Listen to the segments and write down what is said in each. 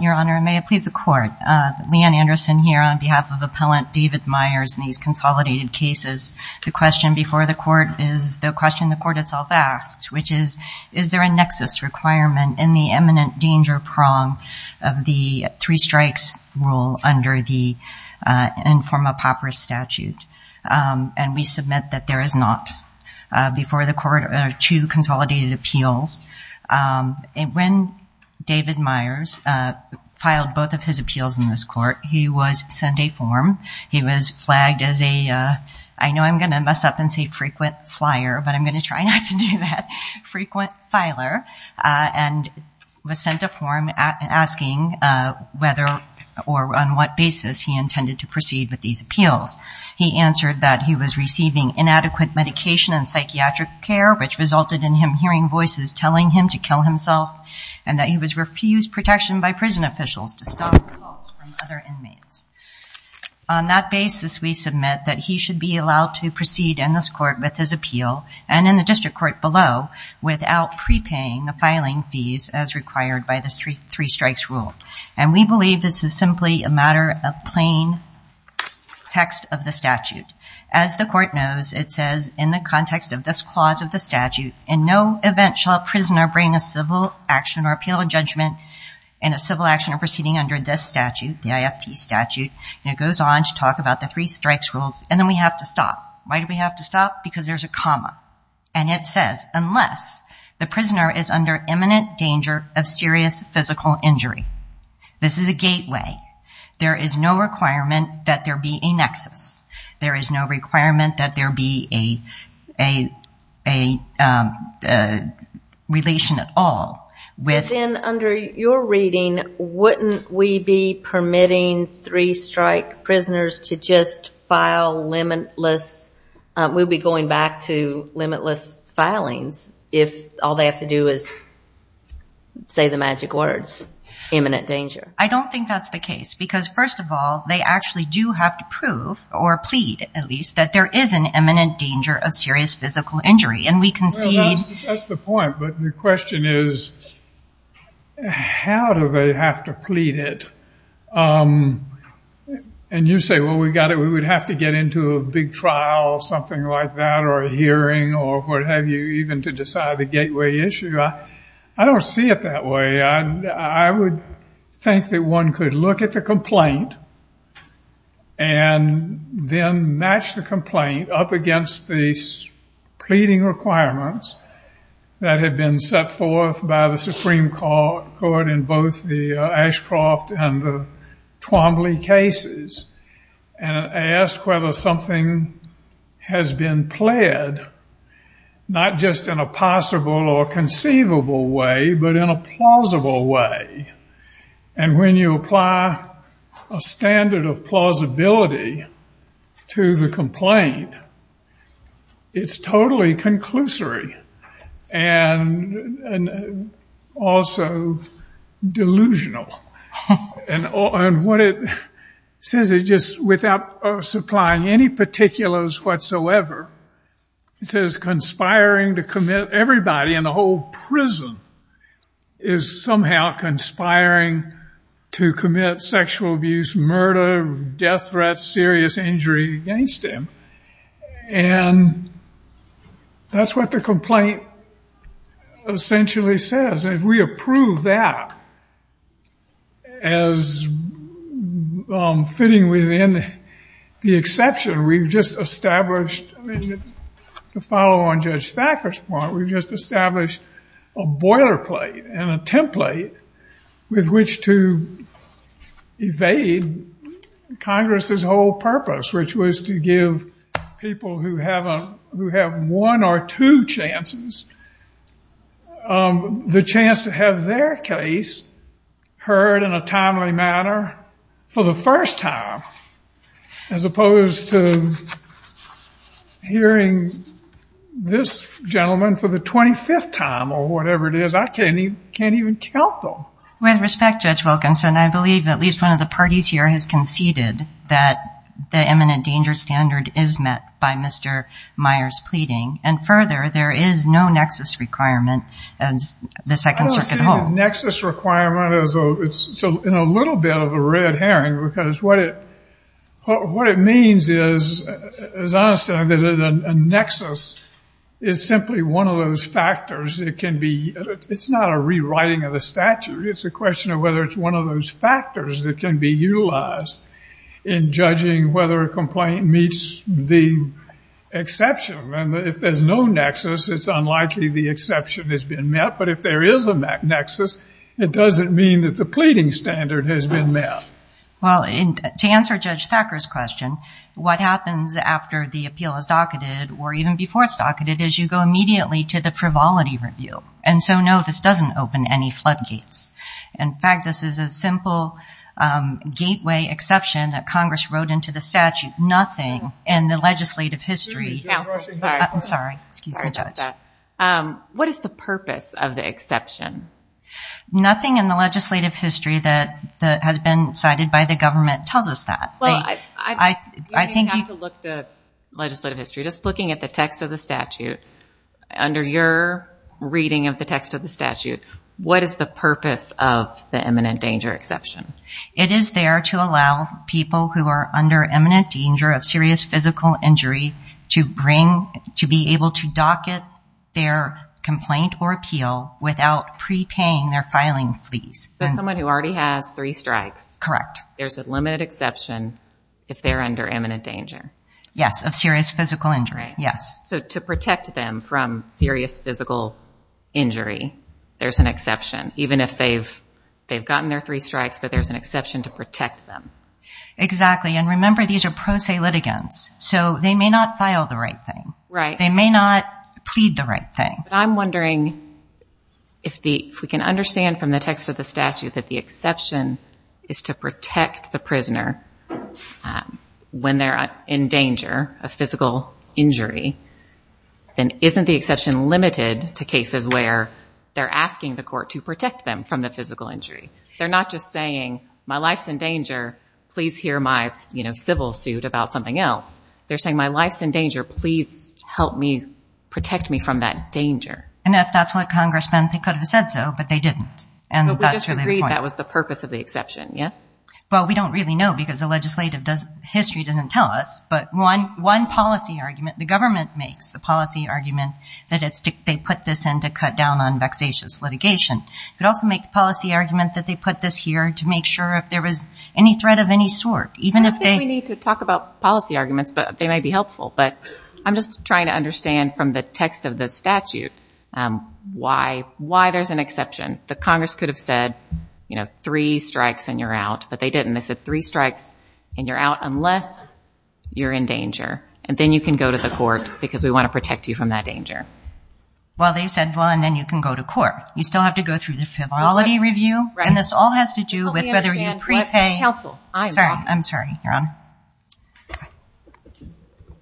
Your Honor, may it please the Court, Leigh Ann Anderson here on behalf of Appellant David Meyers in these consolidated cases. The question before the Court is the question the Court itself asked, which is, is there a nexus requirement in the eminent danger prong of the three-strikes rule under the informal papyrus statute? And we submit that there is not. Before the Court are two consolidated appeals. When David Meyers filed both of his appeals in this Court, he was sent a form. He was flagged as a, I know I'm going to mess up and say frequent flyer, but I'm going to try not to do that, frequent filer, and was sent a form asking whether or on what basis he intended to proceed with these appeals. He answered that he was receiving inadequate medication and resulted in him hearing voices telling him to kill himself and that he was refused protection by prison officials to stop other inmates. On that basis, we submit that he should be allowed to proceed in this Court with his appeal and in the district court below without prepaying the filing fees as required by the three-strikes rule. And we believe this is simply a matter of plain text of the statute. As the Court knows, it says in the context of this clause of the statute, in no event shall a prisoner bring a civil action or appeal of judgment in a civil action or proceeding under this statute, the IFP statute, and it goes on to talk about the three-strikes rules. And then we have to stop. Why do we have to stop? Because there's a comma. And it says, unless the prisoner is under imminent danger of serious physical injury. This is a gateway. There is no requirement that there be a nexus. There is no requirement that there be a relation at all. Then under your reading, wouldn't we be permitting three-strike prisoners to just file limitless, we'll be going back to limitless filings, if all they have to do is say the magic words, imminent danger? I don't think that's the case. Because first of all, they actually do have to prove or plead, at least, that there is an imminent danger of serious physical injury. And we can see... Well, that's the point. But the question is, how do they have to plead it? And you say, well, we got it. We would have to get into a big trial or something like that or a hearing or what have you, even to decide the gateway issue. I don't see it that way. I would think that one could look at the complaint and then match the complaint up against the pleading requirements that have been set forth by the Supreme Court in both the Ashcroft and the Twombly cases and ask whether something has been pled, not just in a possible or but in a plausible way. And when you apply a standard of plausibility to the complaint, it's totally conclusory and also delusional. And what it says is just without supplying any particulars whatsoever, it says conspiring to commit everybody in the whole prison is somehow conspiring to commit sexual abuse, murder, death threats, serious injury against him. And that's what the complaint essentially says. And if we approve that as fitting within the established, to follow on Judge Thacker's point, we've just established a boilerplate and a template with which to evade Congress's whole purpose, which was to give people who have one or two chances the chance to have their case heard in a timely manner for the first time, as opposed to hearing this gentleman for the 25th time or whatever it is. I can't even count them. With respect, Judge Wilkinson, I believe at least one of the parties here has conceded that the eminent danger standard is met by Mr. Meyer's pleading. And further, there is no nexus requirement as the Second Circuit holds. I don't see the nexus requirement in a little bit of a red herring, because what it means is, as I understand it, a nexus is simply one of those factors that can be, it's not a rewriting of the statute. It's a question of whether it's one of those factors that can be utilized in judging whether a complaint meets the exception. And if there's no nexus, it's unlikely the exception has been met. But if there is a nexus, it doesn't mean that the pleading standard has been met. Well, to answer Judge Thacker's question, what happens after the appeal is docketed, or even before it's docketed, is you go immediately to the frivolity review. And so, no, this doesn't open any floodgates. In fact, this is a simple gateway exception that Congress wrote into the statute. Nothing in the legislative history. Excuse me, Judge. Sorry about that. What is the purpose of the exception? Nothing in the legislative history that has been cited by the government tells us that. Well, you don't have to look at the legislative history. Just looking at the text of the statute, under your reading of the text of the statute, what is the purpose of the imminent danger exception? It is there to allow people who are under imminent danger of serious physical injury to be able to docket their complaint or appeal without prepaying their filing fees. So, someone who already has three strikes. Correct. There's a limited exception if they're under imminent danger. Yes, of serious physical injury. So, to protect them from serious physical injury, there's an exception. Even if they've gotten their three strikes, but there's an exception to protect them. Exactly. And remember, these are pro se litigants. So, they may not file the right thing. They may not plead the right thing. I'm wondering if we can understand from the text of the statute that the exception is to protect the prisoner when they're in danger of physical injury. Then, isn't the exception limited to cases where they're asking the court to protect them from the physical injury? They're not just saying, my life's in danger, please hear my civil suit about something else. They're saying, my life's in danger, please help me, protect me from that danger. And if that's what congressmen could have said so, but they didn't. But we just agreed that was the purpose of the exception, yes? Well, we don't really know because the legislative history doesn't tell us. But one policy argument, the government makes a policy argument that they put this in to cut down on vexatious litigation. It could also make the policy argument that they put this here to make sure if there was any threat of any sort, even if they... I don't think we need to talk about policy arguments, but they may be helpful. But I'm just trying to understand from the text of the statute why there's an exception. The congress could have said, three strikes and you're out, but they didn't. They said three strikes and you're out unless you're in danger. And then you can go to the court because we want to protect you from that danger. Well, they said, well, and then you can go to court. You still have to go through the fidelity review, and this all has to do with whether you prepay... Counsel, I'm sorry. I'm sorry, Your Honor.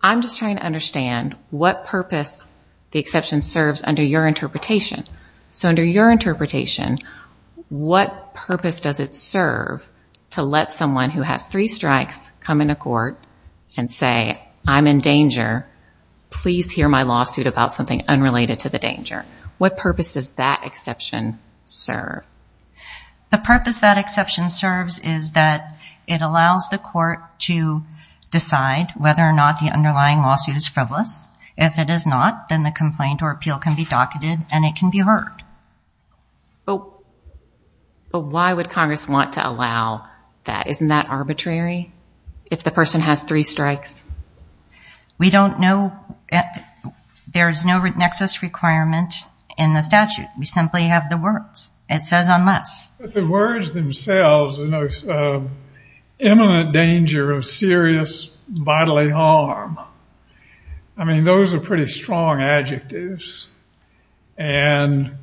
I'm just trying to understand what purpose the exception serves under your interpretation. So under your interpretation, what purpose does it serve to let someone who has three strikes come into court and say, I'm in danger. Please hear my lawsuit about something unrelated to the danger. What purpose does that exception serve? The purpose that exception serves is that it allows the court to decide whether or not the underlying lawsuit is frivolous. If it is not, then the complaint or appeal can be docketed and it can be heard. But why would Congress want to allow that? Isn't that arbitrary? If the person has three strikes? We don't know. There's no nexus requirement in the statute. We simply have the words. It says unless. But the words themselves, imminent danger of serious bodily harm. I mean, those are pretty strong adjectives. And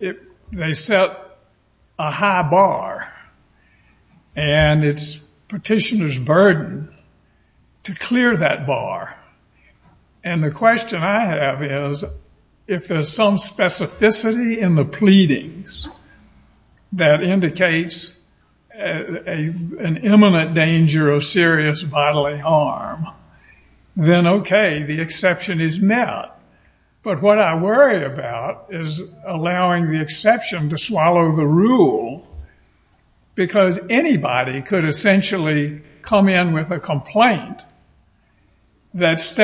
they set a high bar, and it's petitioner's burden to clear that bar. And the question I have is, if there's some specificity in the pleadings that indicates an imminent danger of serious bodily harm, then okay, the exception is met. But what I worry about is allowing the exception to swallow the rule because anybody could essentially come in with a plea that's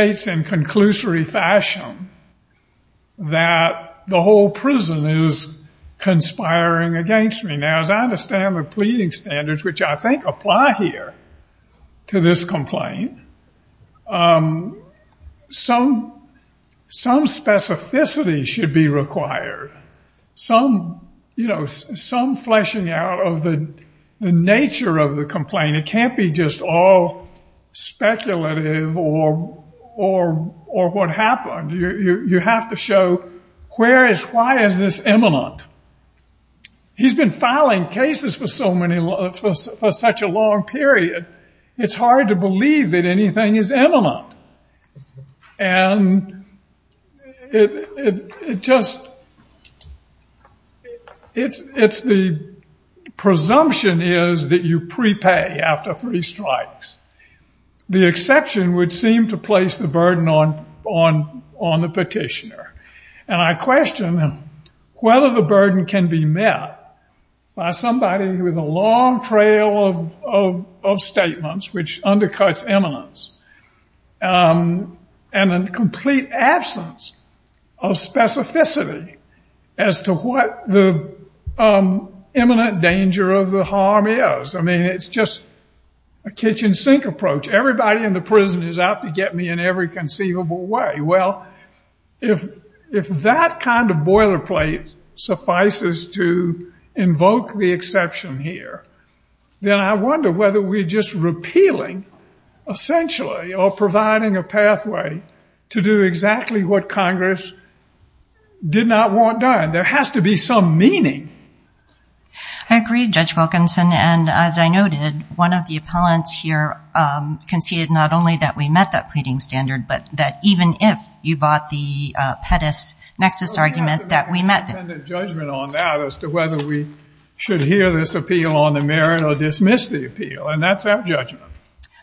conspiring against me. Now, as I understand the pleading standards, which I think apply here to this complaint, some specificity should be required. Some fleshing out of the nature of the complaint. It can't be just all speculative or what happened. You have to show why is this imminent? He's been filing cases for such a long period. It's hard to believe that anything is imminent. And it just, it's the presumption is that you prepay after three strikes. The exception would seem to place the burden on the petitioner. And I question whether the burden can be met by somebody with a long trail of statements, which undercuts eminence, and a complete absence of specificity as to what the imminent danger of the harm is. I mean, it's just a kitchen sink approach. Everybody in the prison is out to get me in every conceivable way. Well, if that kind of boilerplate suffices to invoke the exception here, then I wonder whether we're just repealing, essentially, or providing a pathway to do exactly what Congress did not want done. There has to be some meaning. I agree, Judge Wilkinson. And as I noted, one of the appellants here conceded not only that we met that pleading standard, but that even if you bought the Pettus-Nexus argument that we met it. We have to make an independent judgment on that as to whether we should hear this appeal on the merit or dismiss the appeal. And that's our judgment.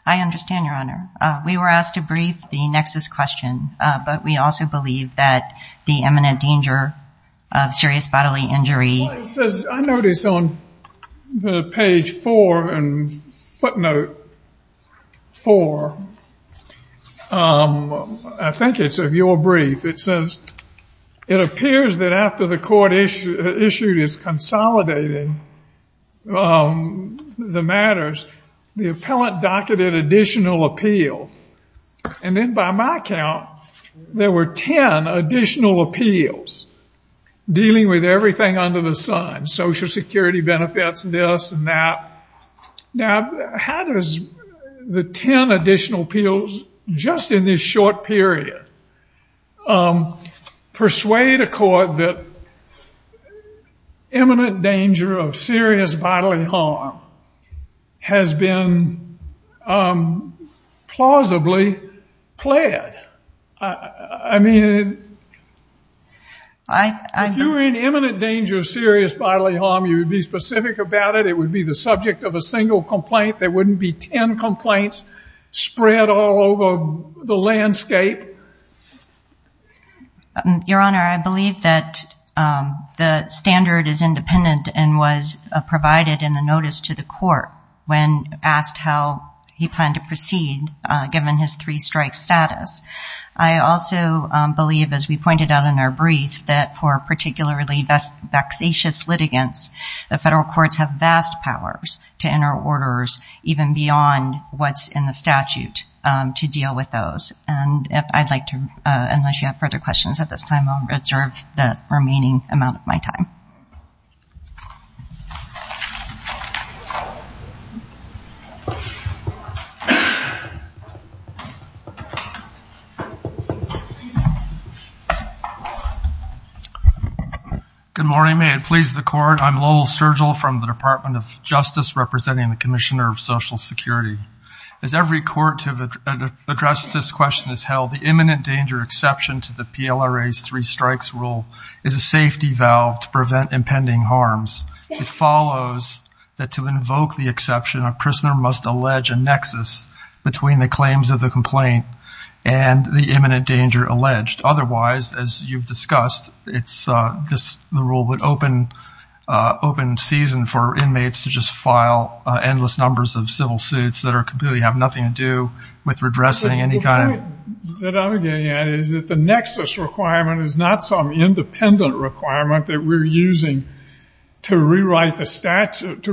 I understand, Your Honor. We were asked to brief the Nexus question, but we also believe that the imminent danger of serious bodily injury... I noticed on the page four and footnote four, I think it's of your brief, it says, it appears that after the court issued is consolidating the matters, the appellant docketed additional appeals. And then by my count, there were 10 additional appeals dealing with everything under the sun, social security benefits, this and that. Now, how does the 10 additional appeals just in this short period persuade a court that imminent danger of serious bodily harm has been plausibly pled? I mean, if you were in imminent danger of serious bodily harm, you would be specific about it. It would be the subject of a single complaint. There wouldn't be 10 complaints spread all over the landscape. Your Honor, I believe that the standard is independent and was provided in the notice to the court when asked how he planned to proceed given his three strike status. I also believe, as we pointed out in our brief, that for particularly vexatious litigants, the federal courts have vast powers to orders even beyond what's in the statute to deal with those. And if I'd like to, unless you have further questions at this time, I'll reserve the remaining amount of my time. Good morning. May it please the court, I'm Lowell Sturgill from the Department of Public Safety and the Commissioner of Social Security. As every court to address this question has held, the imminent danger exception to the PLRA's three strikes rule is a safety valve to prevent impending harms. It follows that to invoke the exception, a prisoner must allege a nexus between the claims of the complaint and the imminent danger alleged. Otherwise, as you've discussed, it's just the rule would open season for inmates to just file endless numbers of civil suits that completely have nothing to do with redressing any kind of... The point that I'm getting at is that the nexus requirement is not some independent requirement that we're using to rewrite the statute.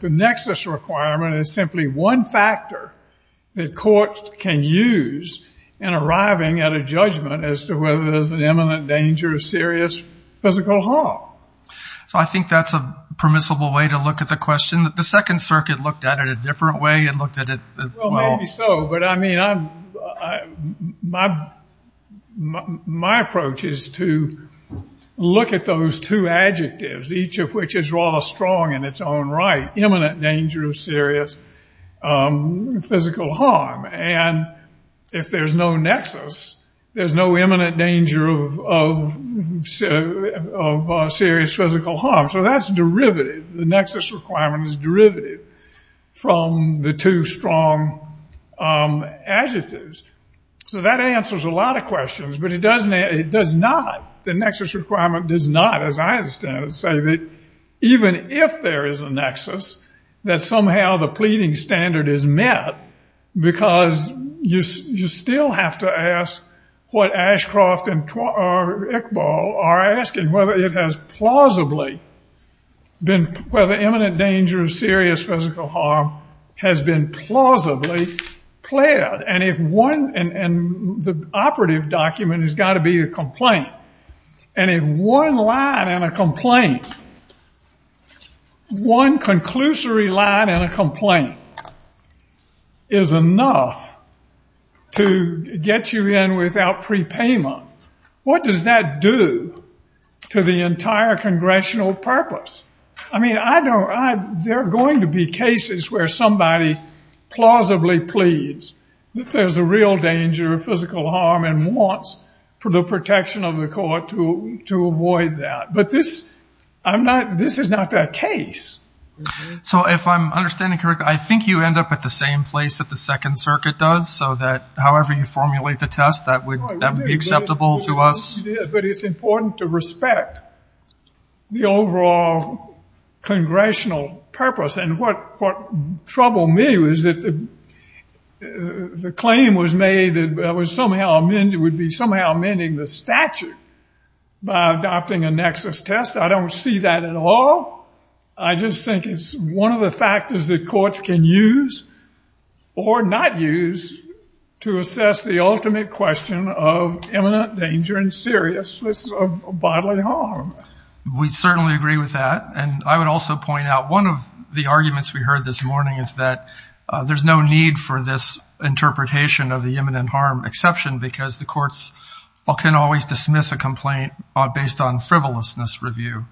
The nexus requirement is simply one factor that courts can use in arriving at a judgment as to whether there's an imminent danger of serious physical harm. So I think that's a permissible way to look at the question. The Second Circuit looked at it a different way and looked at it as well. Well, maybe so, but I mean, my approach is to look at those two adjectives, each of which is rather strong in its own right, imminent danger of serious physical harm. And if there's no nexus, there's no imminent danger of serious physical harm. So that's derivative. The nexus requirement is derivative from the two strong adjectives. So that answers a lot of questions, but it does not, the nexus requirement does not, as I understand it, say that even if there is a nexus, that somehow the pleading standard is met, because you still have to ask what Ashcroft and Iqbal are asking, whether it has plausibly been, whether imminent danger of serious physical harm has been plausibly pled. And if one, and the operative document has got to be a complaint. And if one line in a complaint, one conclusory line in a complaint, is enough to get you in without prepayment, what does that do to the entire congressional purpose? I mean, I don't, there are going to be cases where somebody plausibly pleads that there's a danger of physical harm and wants the protection of the court to avoid that. But this, I'm not, this is not that case. So if I'm understanding correctly, I think you end up at the same place that the second circuit does. So that however you formulate the test, that would be acceptable to us. But it's important to respect the overall congressional purpose. And what troubled me was that the claim was made that it was somehow, would be somehow amending the statute by adopting a nexus test. I don't see that at all. I just think it's one of the factors that courts can use or not use to assess the ultimate question of imminent danger and seriousness of bodily harm. We certainly agree with that. And I would also point out one of the arguments we heard this morning is that there's no need for this interpretation of the imminent harm exception because the courts can always dismiss a complaint based on frivolousness review.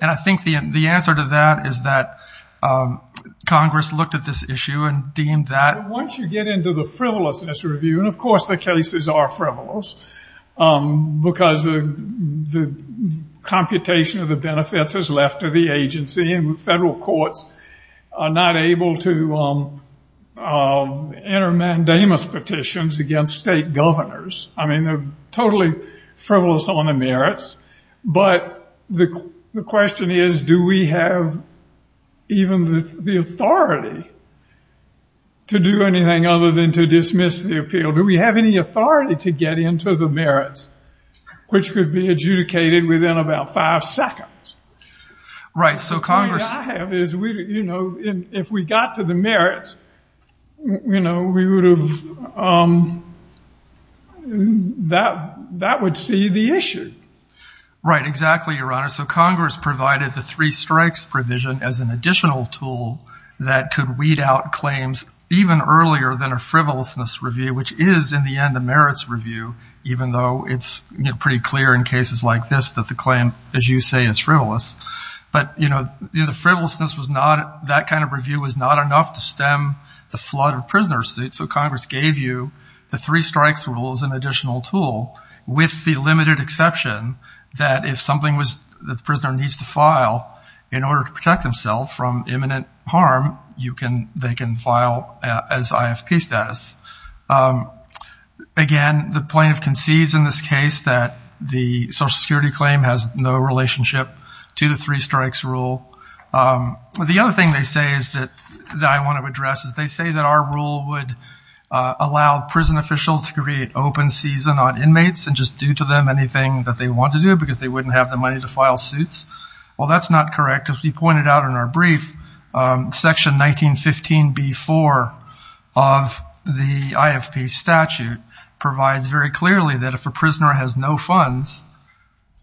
And I think the answer to that is that Congress looked at this issue and deemed that... Once you get into the frivolousness review, and of course the cases are frivolous, because the computation of the benefits is left to the agency and federal courts are not able to enter mandamus petitions against state governors. I mean, they're totally frivolous on the merits. But the question is, do we have even the authority to do anything other than to dismiss the appeal? Do we have any authority to get into the merits, which could be adjudicated within about five seconds? Right. So Congress... All I have is, if we got to the merits, that would see the issue. Right. Exactly, Your Honor. So Congress provided the three strikes provision as an additional tool that could weed out claims even earlier than a frivolousness review, which is, in the end, a merits review, even though it's pretty clear in cases like this that the claim, as you say, is frivolous. But the frivolousness was not... That kind of review was not enough to stem the flood of prisoner suits. So Congress gave you the three strikes rule as an additional tool with the limited exception that if something that the prisoner needs to file in order to protect themselves from imminent harm, they can file as IFP status. Again, the plaintiff concedes in this case that the social security claim has no relationship to the three strikes rule. The other thing they say is that I want to address is they say that our rule would allow prison officials to create open season on inmates and just do to them anything that they want to do because they wouldn't have the money to file suits. Well, that's not correct. As we pointed out in our brief, section 1915B4 of the IFP statute provides very clearly that if a prisoner has no funds,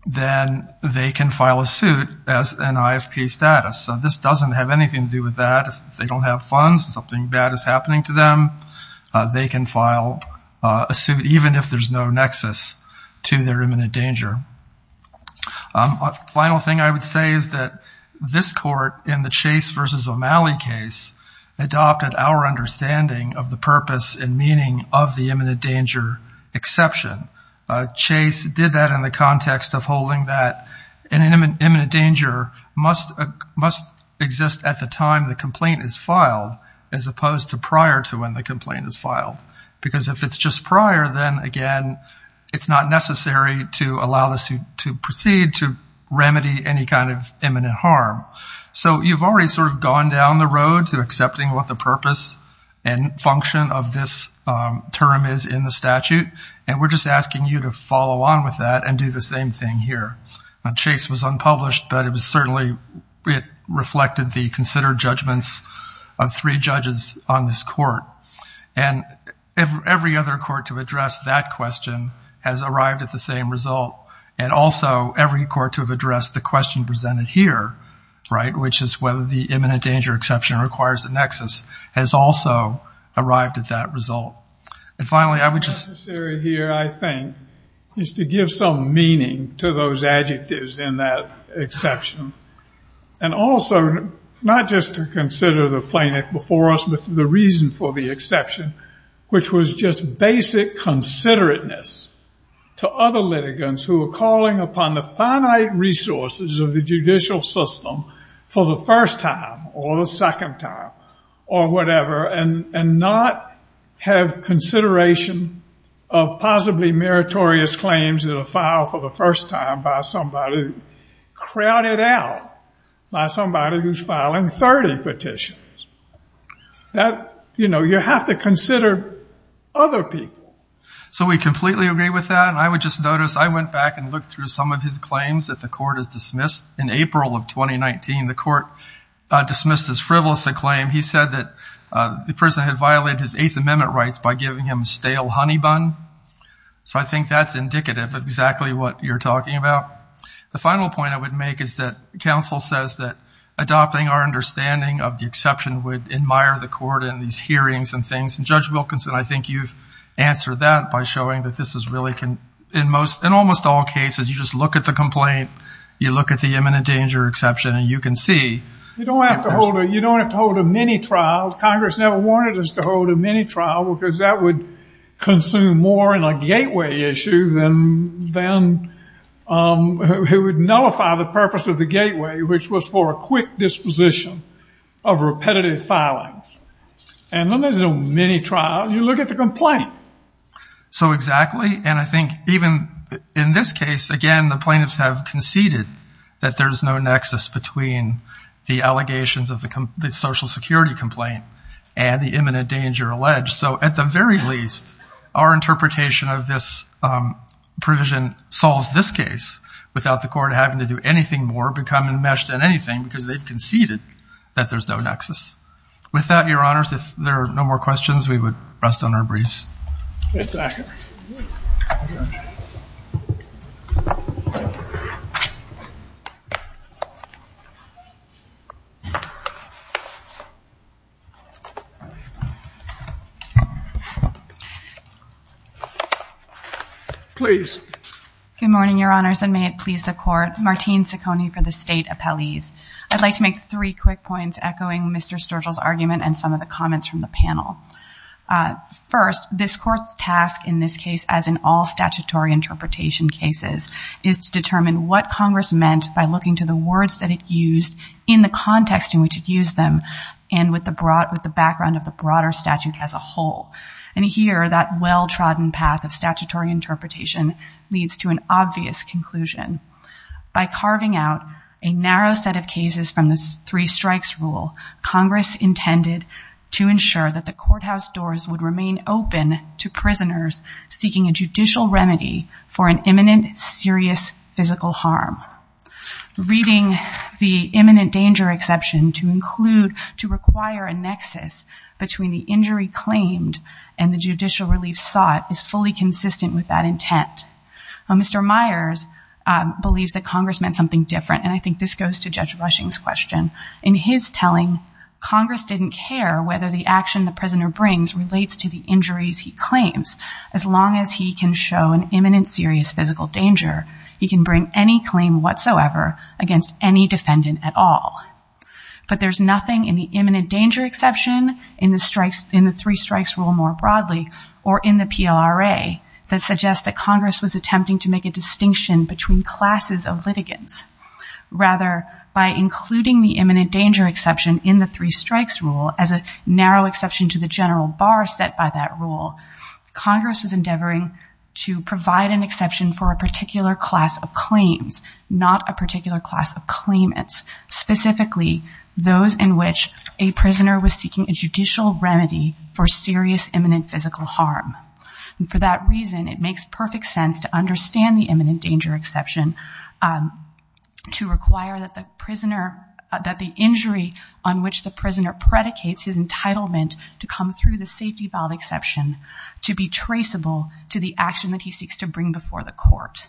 then they can file a suit as an IFP status. So this doesn't have anything to do with that. If they don't have funds and something bad is happening to them, they can file a suit even if there's no nexus to their imminent danger. Final thing I would say is that this court in the Chase versus O'Malley case adopted our understanding of the purpose and meaning of the imminent danger exception. Chase did that in the context of holding that an imminent danger must exist at the time the complaint is filed as opposed to prior to when the complaint is filed. Because if it's just prior, then again it's not necessary to allow the suit to proceed to remedy any kind of imminent harm. So you've already sort of gone down the road to accepting what the purpose and function of this term is in the statute and we're just asking you to follow on with that and do the same thing here. Chase was unpublished, but it was certainly reflected the considered judgments of three judges on this court. And every other court to address that question has arrived at the same result. And also every court to have addressed the question presented here, right, which is whether the imminent danger exception requires a nexus has also arrived at that result. And finally I would say here I think is to give some meaning to those adjectives in that exception. And also not just to consider the plaintiff before us, but the reason for the exception, which was just basic considerateness to other litigants who are calling upon the finite resources of the judicial system for the first time or the second time or whatever and not have consideration of possibly meritorious claims that are filed for the first time by somebody crowded out by somebody who's filing 30 petitions. That, you know, you have to consider other people. So we completely agree with that and I would just notice I went back and looked through some of his claims that the court has dismissed. In April of 2019, the court dismissed his frivolous claim. He said that the person had violated his Eighth Amendment rights by giving him stale honey bun. So I think that's indicative of exactly what you're talking about. The final point I would make is that counsel says that adopting our understanding of the exception would admire the court in these hearings and things. And Judge Wilkinson, I think you've answered that by showing that this is really, in most, in almost all cases, you just look at the complaint, you look at the imminent danger exception, and you can see. You don't have to hold a mini-trial. Congress never wanted us to hold a mini-trial because that would consume more in a gateway issue than it would nullify the purpose of the gateway, which was for a quick disposition of repetitive filings. And then there's a mini-trial. You look at the complaint. So exactly. And I think even in this case, again, the plaintiffs have conceded that there's no nexus between the allegations of the Social Security complaint and the imminent danger alleged. So at the very least, our interpretation of this provision solves this case without the that there's no nexus. With that, Your Honors, if there are no more questions, we would rest on our briefs. Please. Good morning, Your Honors, and may it please the Court. Martine Sicconi for the State Points, echoing Mr. Sturgill's argument and some of the comments from the panel. First, this Court's task in this case, as in all statutory interpretation cases, is to determine what Congress meant by looking to the words that it used in the context in which it used them and with the background of the broader statute as a whole. And here, that well-trodden path of statutory interpretation leads to an obvious conclusion. By carving out a narrow set of cases from the three strikes rule, Congress intended to ensure that the courthouse doors would remain open to prisoners seeking a judicial remedy for an imminent, serious physical harm. Reading the imminent danger exception to include, to require a nexus between the injury claimed and the judicial relief sought is fully consistent with that intent. Mr. Myers believes that Congress meant something different, and I think this goes to Judge Rushing's question. In his telling, Congress didn't care whether the action the prisoner brings relates to the injuries he claims. As long as he can show an imminent, serious physical danger, he can bring any claim whatsoever against any defendant at all. But there's nothing in the imminent danger exception, in the strikes, in the three strikes rule more broadly, or in the PLRA, that suggests that Congress was attempting to make a distinction between classes of litigants. Rather, by including the imminent danger exception in the three strikes rule as a narrow exception to the general bar set by that rule, Congress was endeavoring to provide an exception for a particular class of claims, not a particular class of claimants, specifically those in which a prisoner was seeking a judicial remedy for serious, physical harm. And for that reason, it makes perfect sense to understand the imminent danger exception to require that the injury on which the prisoner predicates his entitlement to come through the safety valve exception to be traceable to the action that he seeks to bring before the court.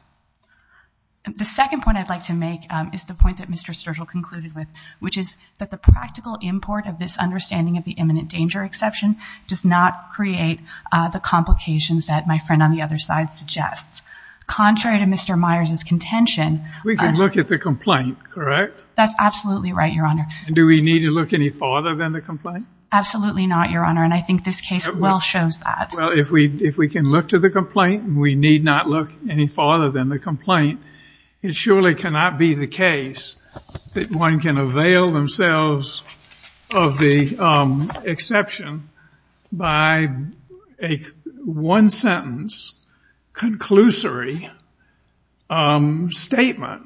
The second point I'd like to make is the point that Mr. Sturgill concluded with, which is that the practical import of this understanding of the imminent danger exception does not create the complications that my friend on the other side suggests. Contrary to Mr. Myers's contention... We can look at the complaint, correct? That's absolutely right, Your Honor. And do we need to look any farther than the complaint? Absolutely not, Your Honor, and I think this case well shows that. Well, if we can look to the complaint, we need not look any farther than the complaint. It surely cannot be the case that one can avail themselves of the exception by a one-sentence, conclusory statement,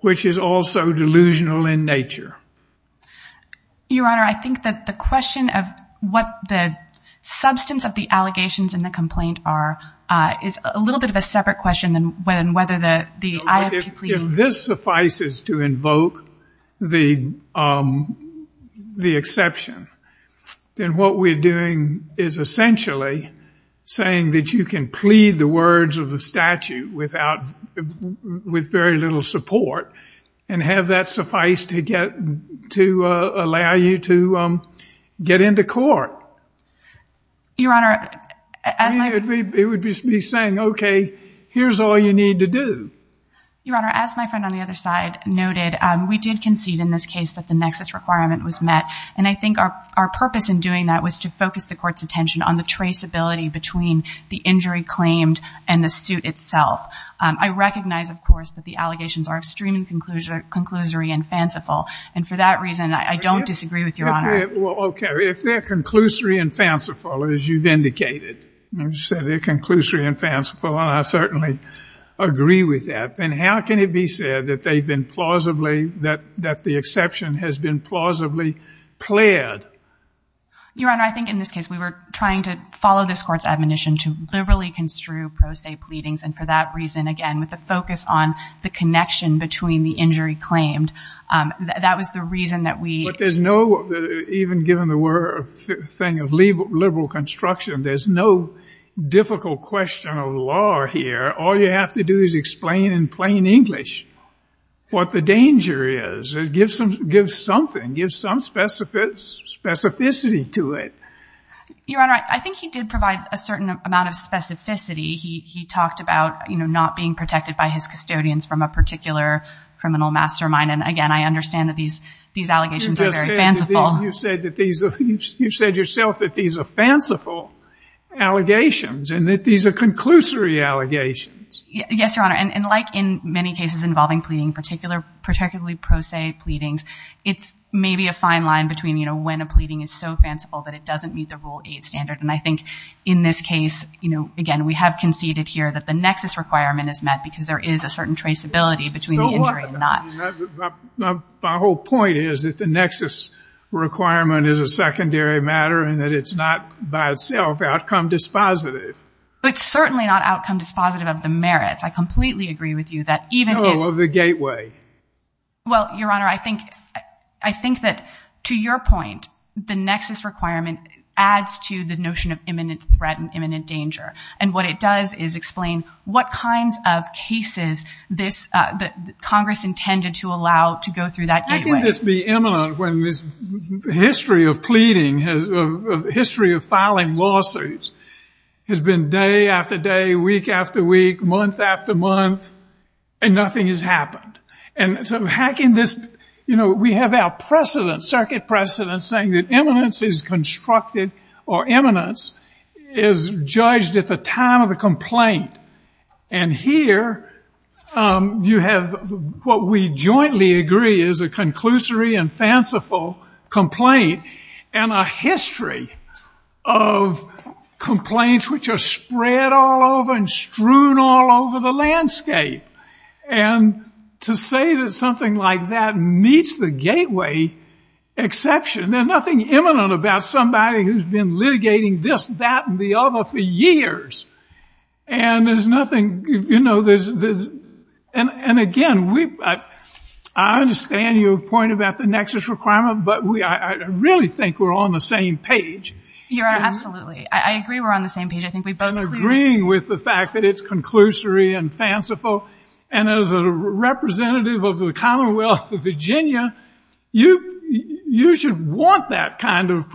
which is also delusional in nature. Your Honor, I think that the question of what the substance of the allegations in the complaint are is a little bit of a separate question than whether the... If this suffices to invoke the exception, then what we're doing is essentially saying that you can plead the words of the statute without... With very little support and have that suffice to get... To allow you to get into court. Your Honor... It would be saying, okay, here's all you need to do. Your Honor, as my friend on the other side noted, we did concede in this case that the nexus requirement was met, and I think our purpose in doing that was to focus the court's attention on the traceability between the injury claimed and the suit itself. I recognize, of course, that the allegations are extremely conclusory and fanciful, and for that reason, I don't disagree with Your Honor. Okay, if they're conclusory and fanciful, as you've indicated, you said how can it be said that they've been plausibly... That the exception has been plausibly pled? Your Honor, I think in this case, we were trying to follow this court's admonition to liberally construe pro se pleadings, and for that reason, again, with the focus on the connection between the injury claimed, that was the reason that we... But there's no... Even given the thing of liberal construction, there's no difficult question of law here. All you have to do is explain in plain English what the danger is. It gives something, gives some specificity to it. Your Honor, I think he did provide a certain amount of specificity. He talked about, you know, not being protected by his custodians from a particular criminal mastermind, and again, I understand that these allegations are very fanciful. You've said yourself that these are fanciful allegations, and that these are conclusory allegations. Yes, Your Honor, and like in many cases involving pleading, particularly pro se pleadings, it's maybe a fine line between, you know, when a pleading is so fanciful that it doesn't meet the Rule 8 standard, and I think in this case, you know, again, we have conceded here that the nexus requirement is met because there is a certain traceability between the injury and not. My whole point is that the nexus requirement is a secondary matter and that it's not by itself outcome dispositive. It's certainly not outcome dispositive of the merits. I completely agree with you that even. No, of the gateway. Well, Your Honor, I think that to your point, the nexus requirement adds to the notion of imminent threat and imminent danger, and what it does is explain what kinds of cases this, that Congress intended to allow to go through that gateway. How can this be imminent when this history of pleading has, history of filing lawsuits has been day after day, week after week, month after month, and nothing has happened? And so how can this, you know, we have our precedent, circuit precedent saying that imminence is constructed or imminence is judged at the time of the complaint. And here you have what we jointly agree is a conclusory and fanciful complaint and a history of complaints which are spread all over and strewn all over the landscape. And to say that something like that meets the gateway exception, there's nothing imminent about somebody who's been litigating this, that, and the other for years. And there's nothing, you know, there's, and again, we, I understand your point about the nexus requirement, but we, I really think we're on the same page. Your Honor, absolutely. I agree we're on the same page. I think we both agree with the fact that it's conclusory and fanciful. And as a representative of the Commonwealth of Virginia, you should want that kind of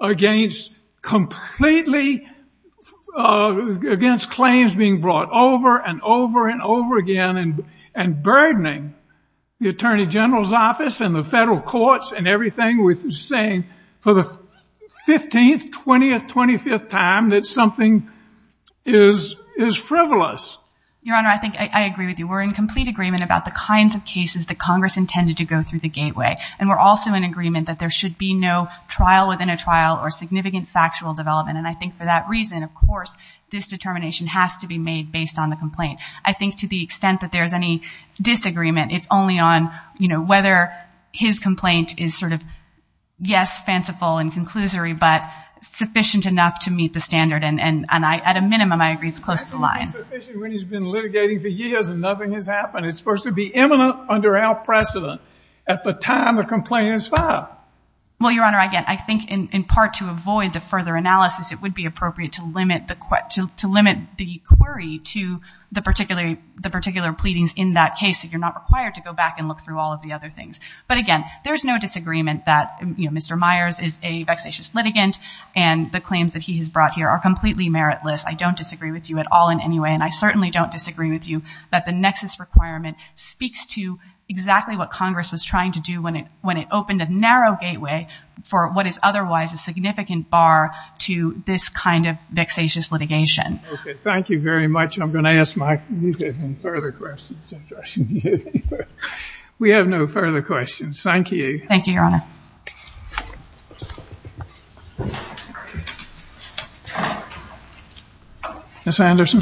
against claims being brought over and over and over again and burdening the Attorney General's office and the federal courts and everything with saying for the 15th, 20th, 25th time that something is frivolous. Your Honor, I think I agree with you. We're in complete agreement about the kinds of cases that Congress intended to go through the gateway. And we're also in agreement that there should be no trial within a trial or significant factual development. And I think for that reason, of course, this determination has to be made based on the complaint. I think to the extent that there's any disagreement, it's only on, you know, whether his complaint is sort of, yes, fanciful and conclusory, but sufficient enough to meet the standard. And I, at a minimum, I agree it's close to the line. It's been sufficient when he's been litigating for years and nothing has happened. It's supposed to be imminent under our precedent at the time the complaint is filed. Well, Your Honor, again, I think in part to avoid the further analysis, it would be appropriate to limit the query to the particular pleadings in that case. So you're not required to go back and look through all of the other things. But again, there's no disagreement that, you know, Mr. Myers is a vexatious litigant and the claims that he has brought here are completely meritless. I don't disagree with you at all in any way. And I certainly don't disagree with you that the nexus requirement speaks to exactly what for what is otherwise a significant bar to this kind of vexatious litigation. Okay. Thank you very much. I'm going to ask my further questions. We have no further questions. Thank you. Thank you, Your Honor. Ms. Anderson.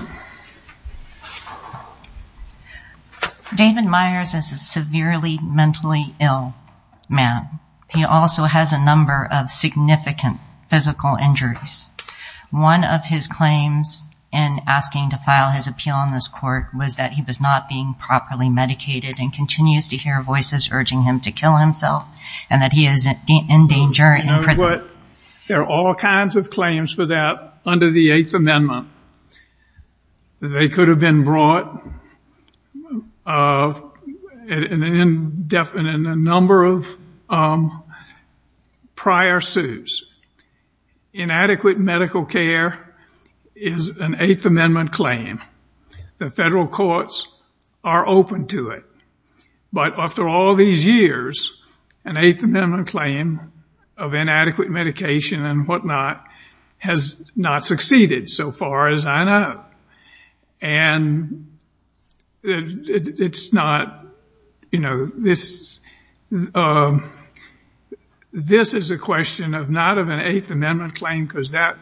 David Myers is a severely mentally ill man. He also has a number of significant physical injuries. One of his claims in asking to file his appeal on this court was that he was not being properly medicated and continues to hear voices urging him to kill himself and that he is in danger. You know what? There are all kinds of claims for that under the Eighth Amendment. They could have been brought in a number of prior suits. Inadequate medical care is an Eighth Amendment claim. The federal courts are open to it. But after all these years, an Eighth Amendment claim of inadequate medication and whatnot has not succeeded so far as I know. And it's not, you know, this is a question of not of an Eighth Amendment claim, because that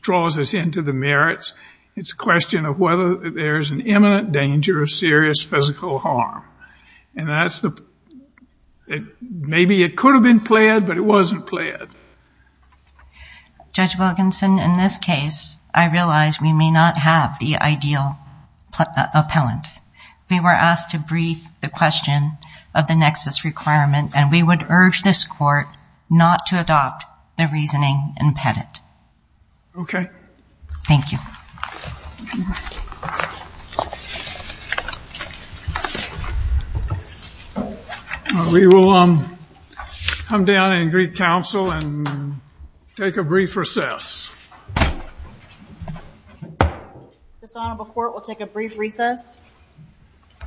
draws us into the merits. It's a question of whether there's an imminent danger of serious physical harm. And maybe it could have been pled, but it wasn't pled. Judge Wilkinson, in this case, I realize we may not have the ideal appellant. We were asked to brief the question of the nexus requirement, and we would urge this court not to adopt the reasoning impedent. Okay. Thank you. We will come down and greet counsel and take a brief recess. This honorable court will take a brief recess.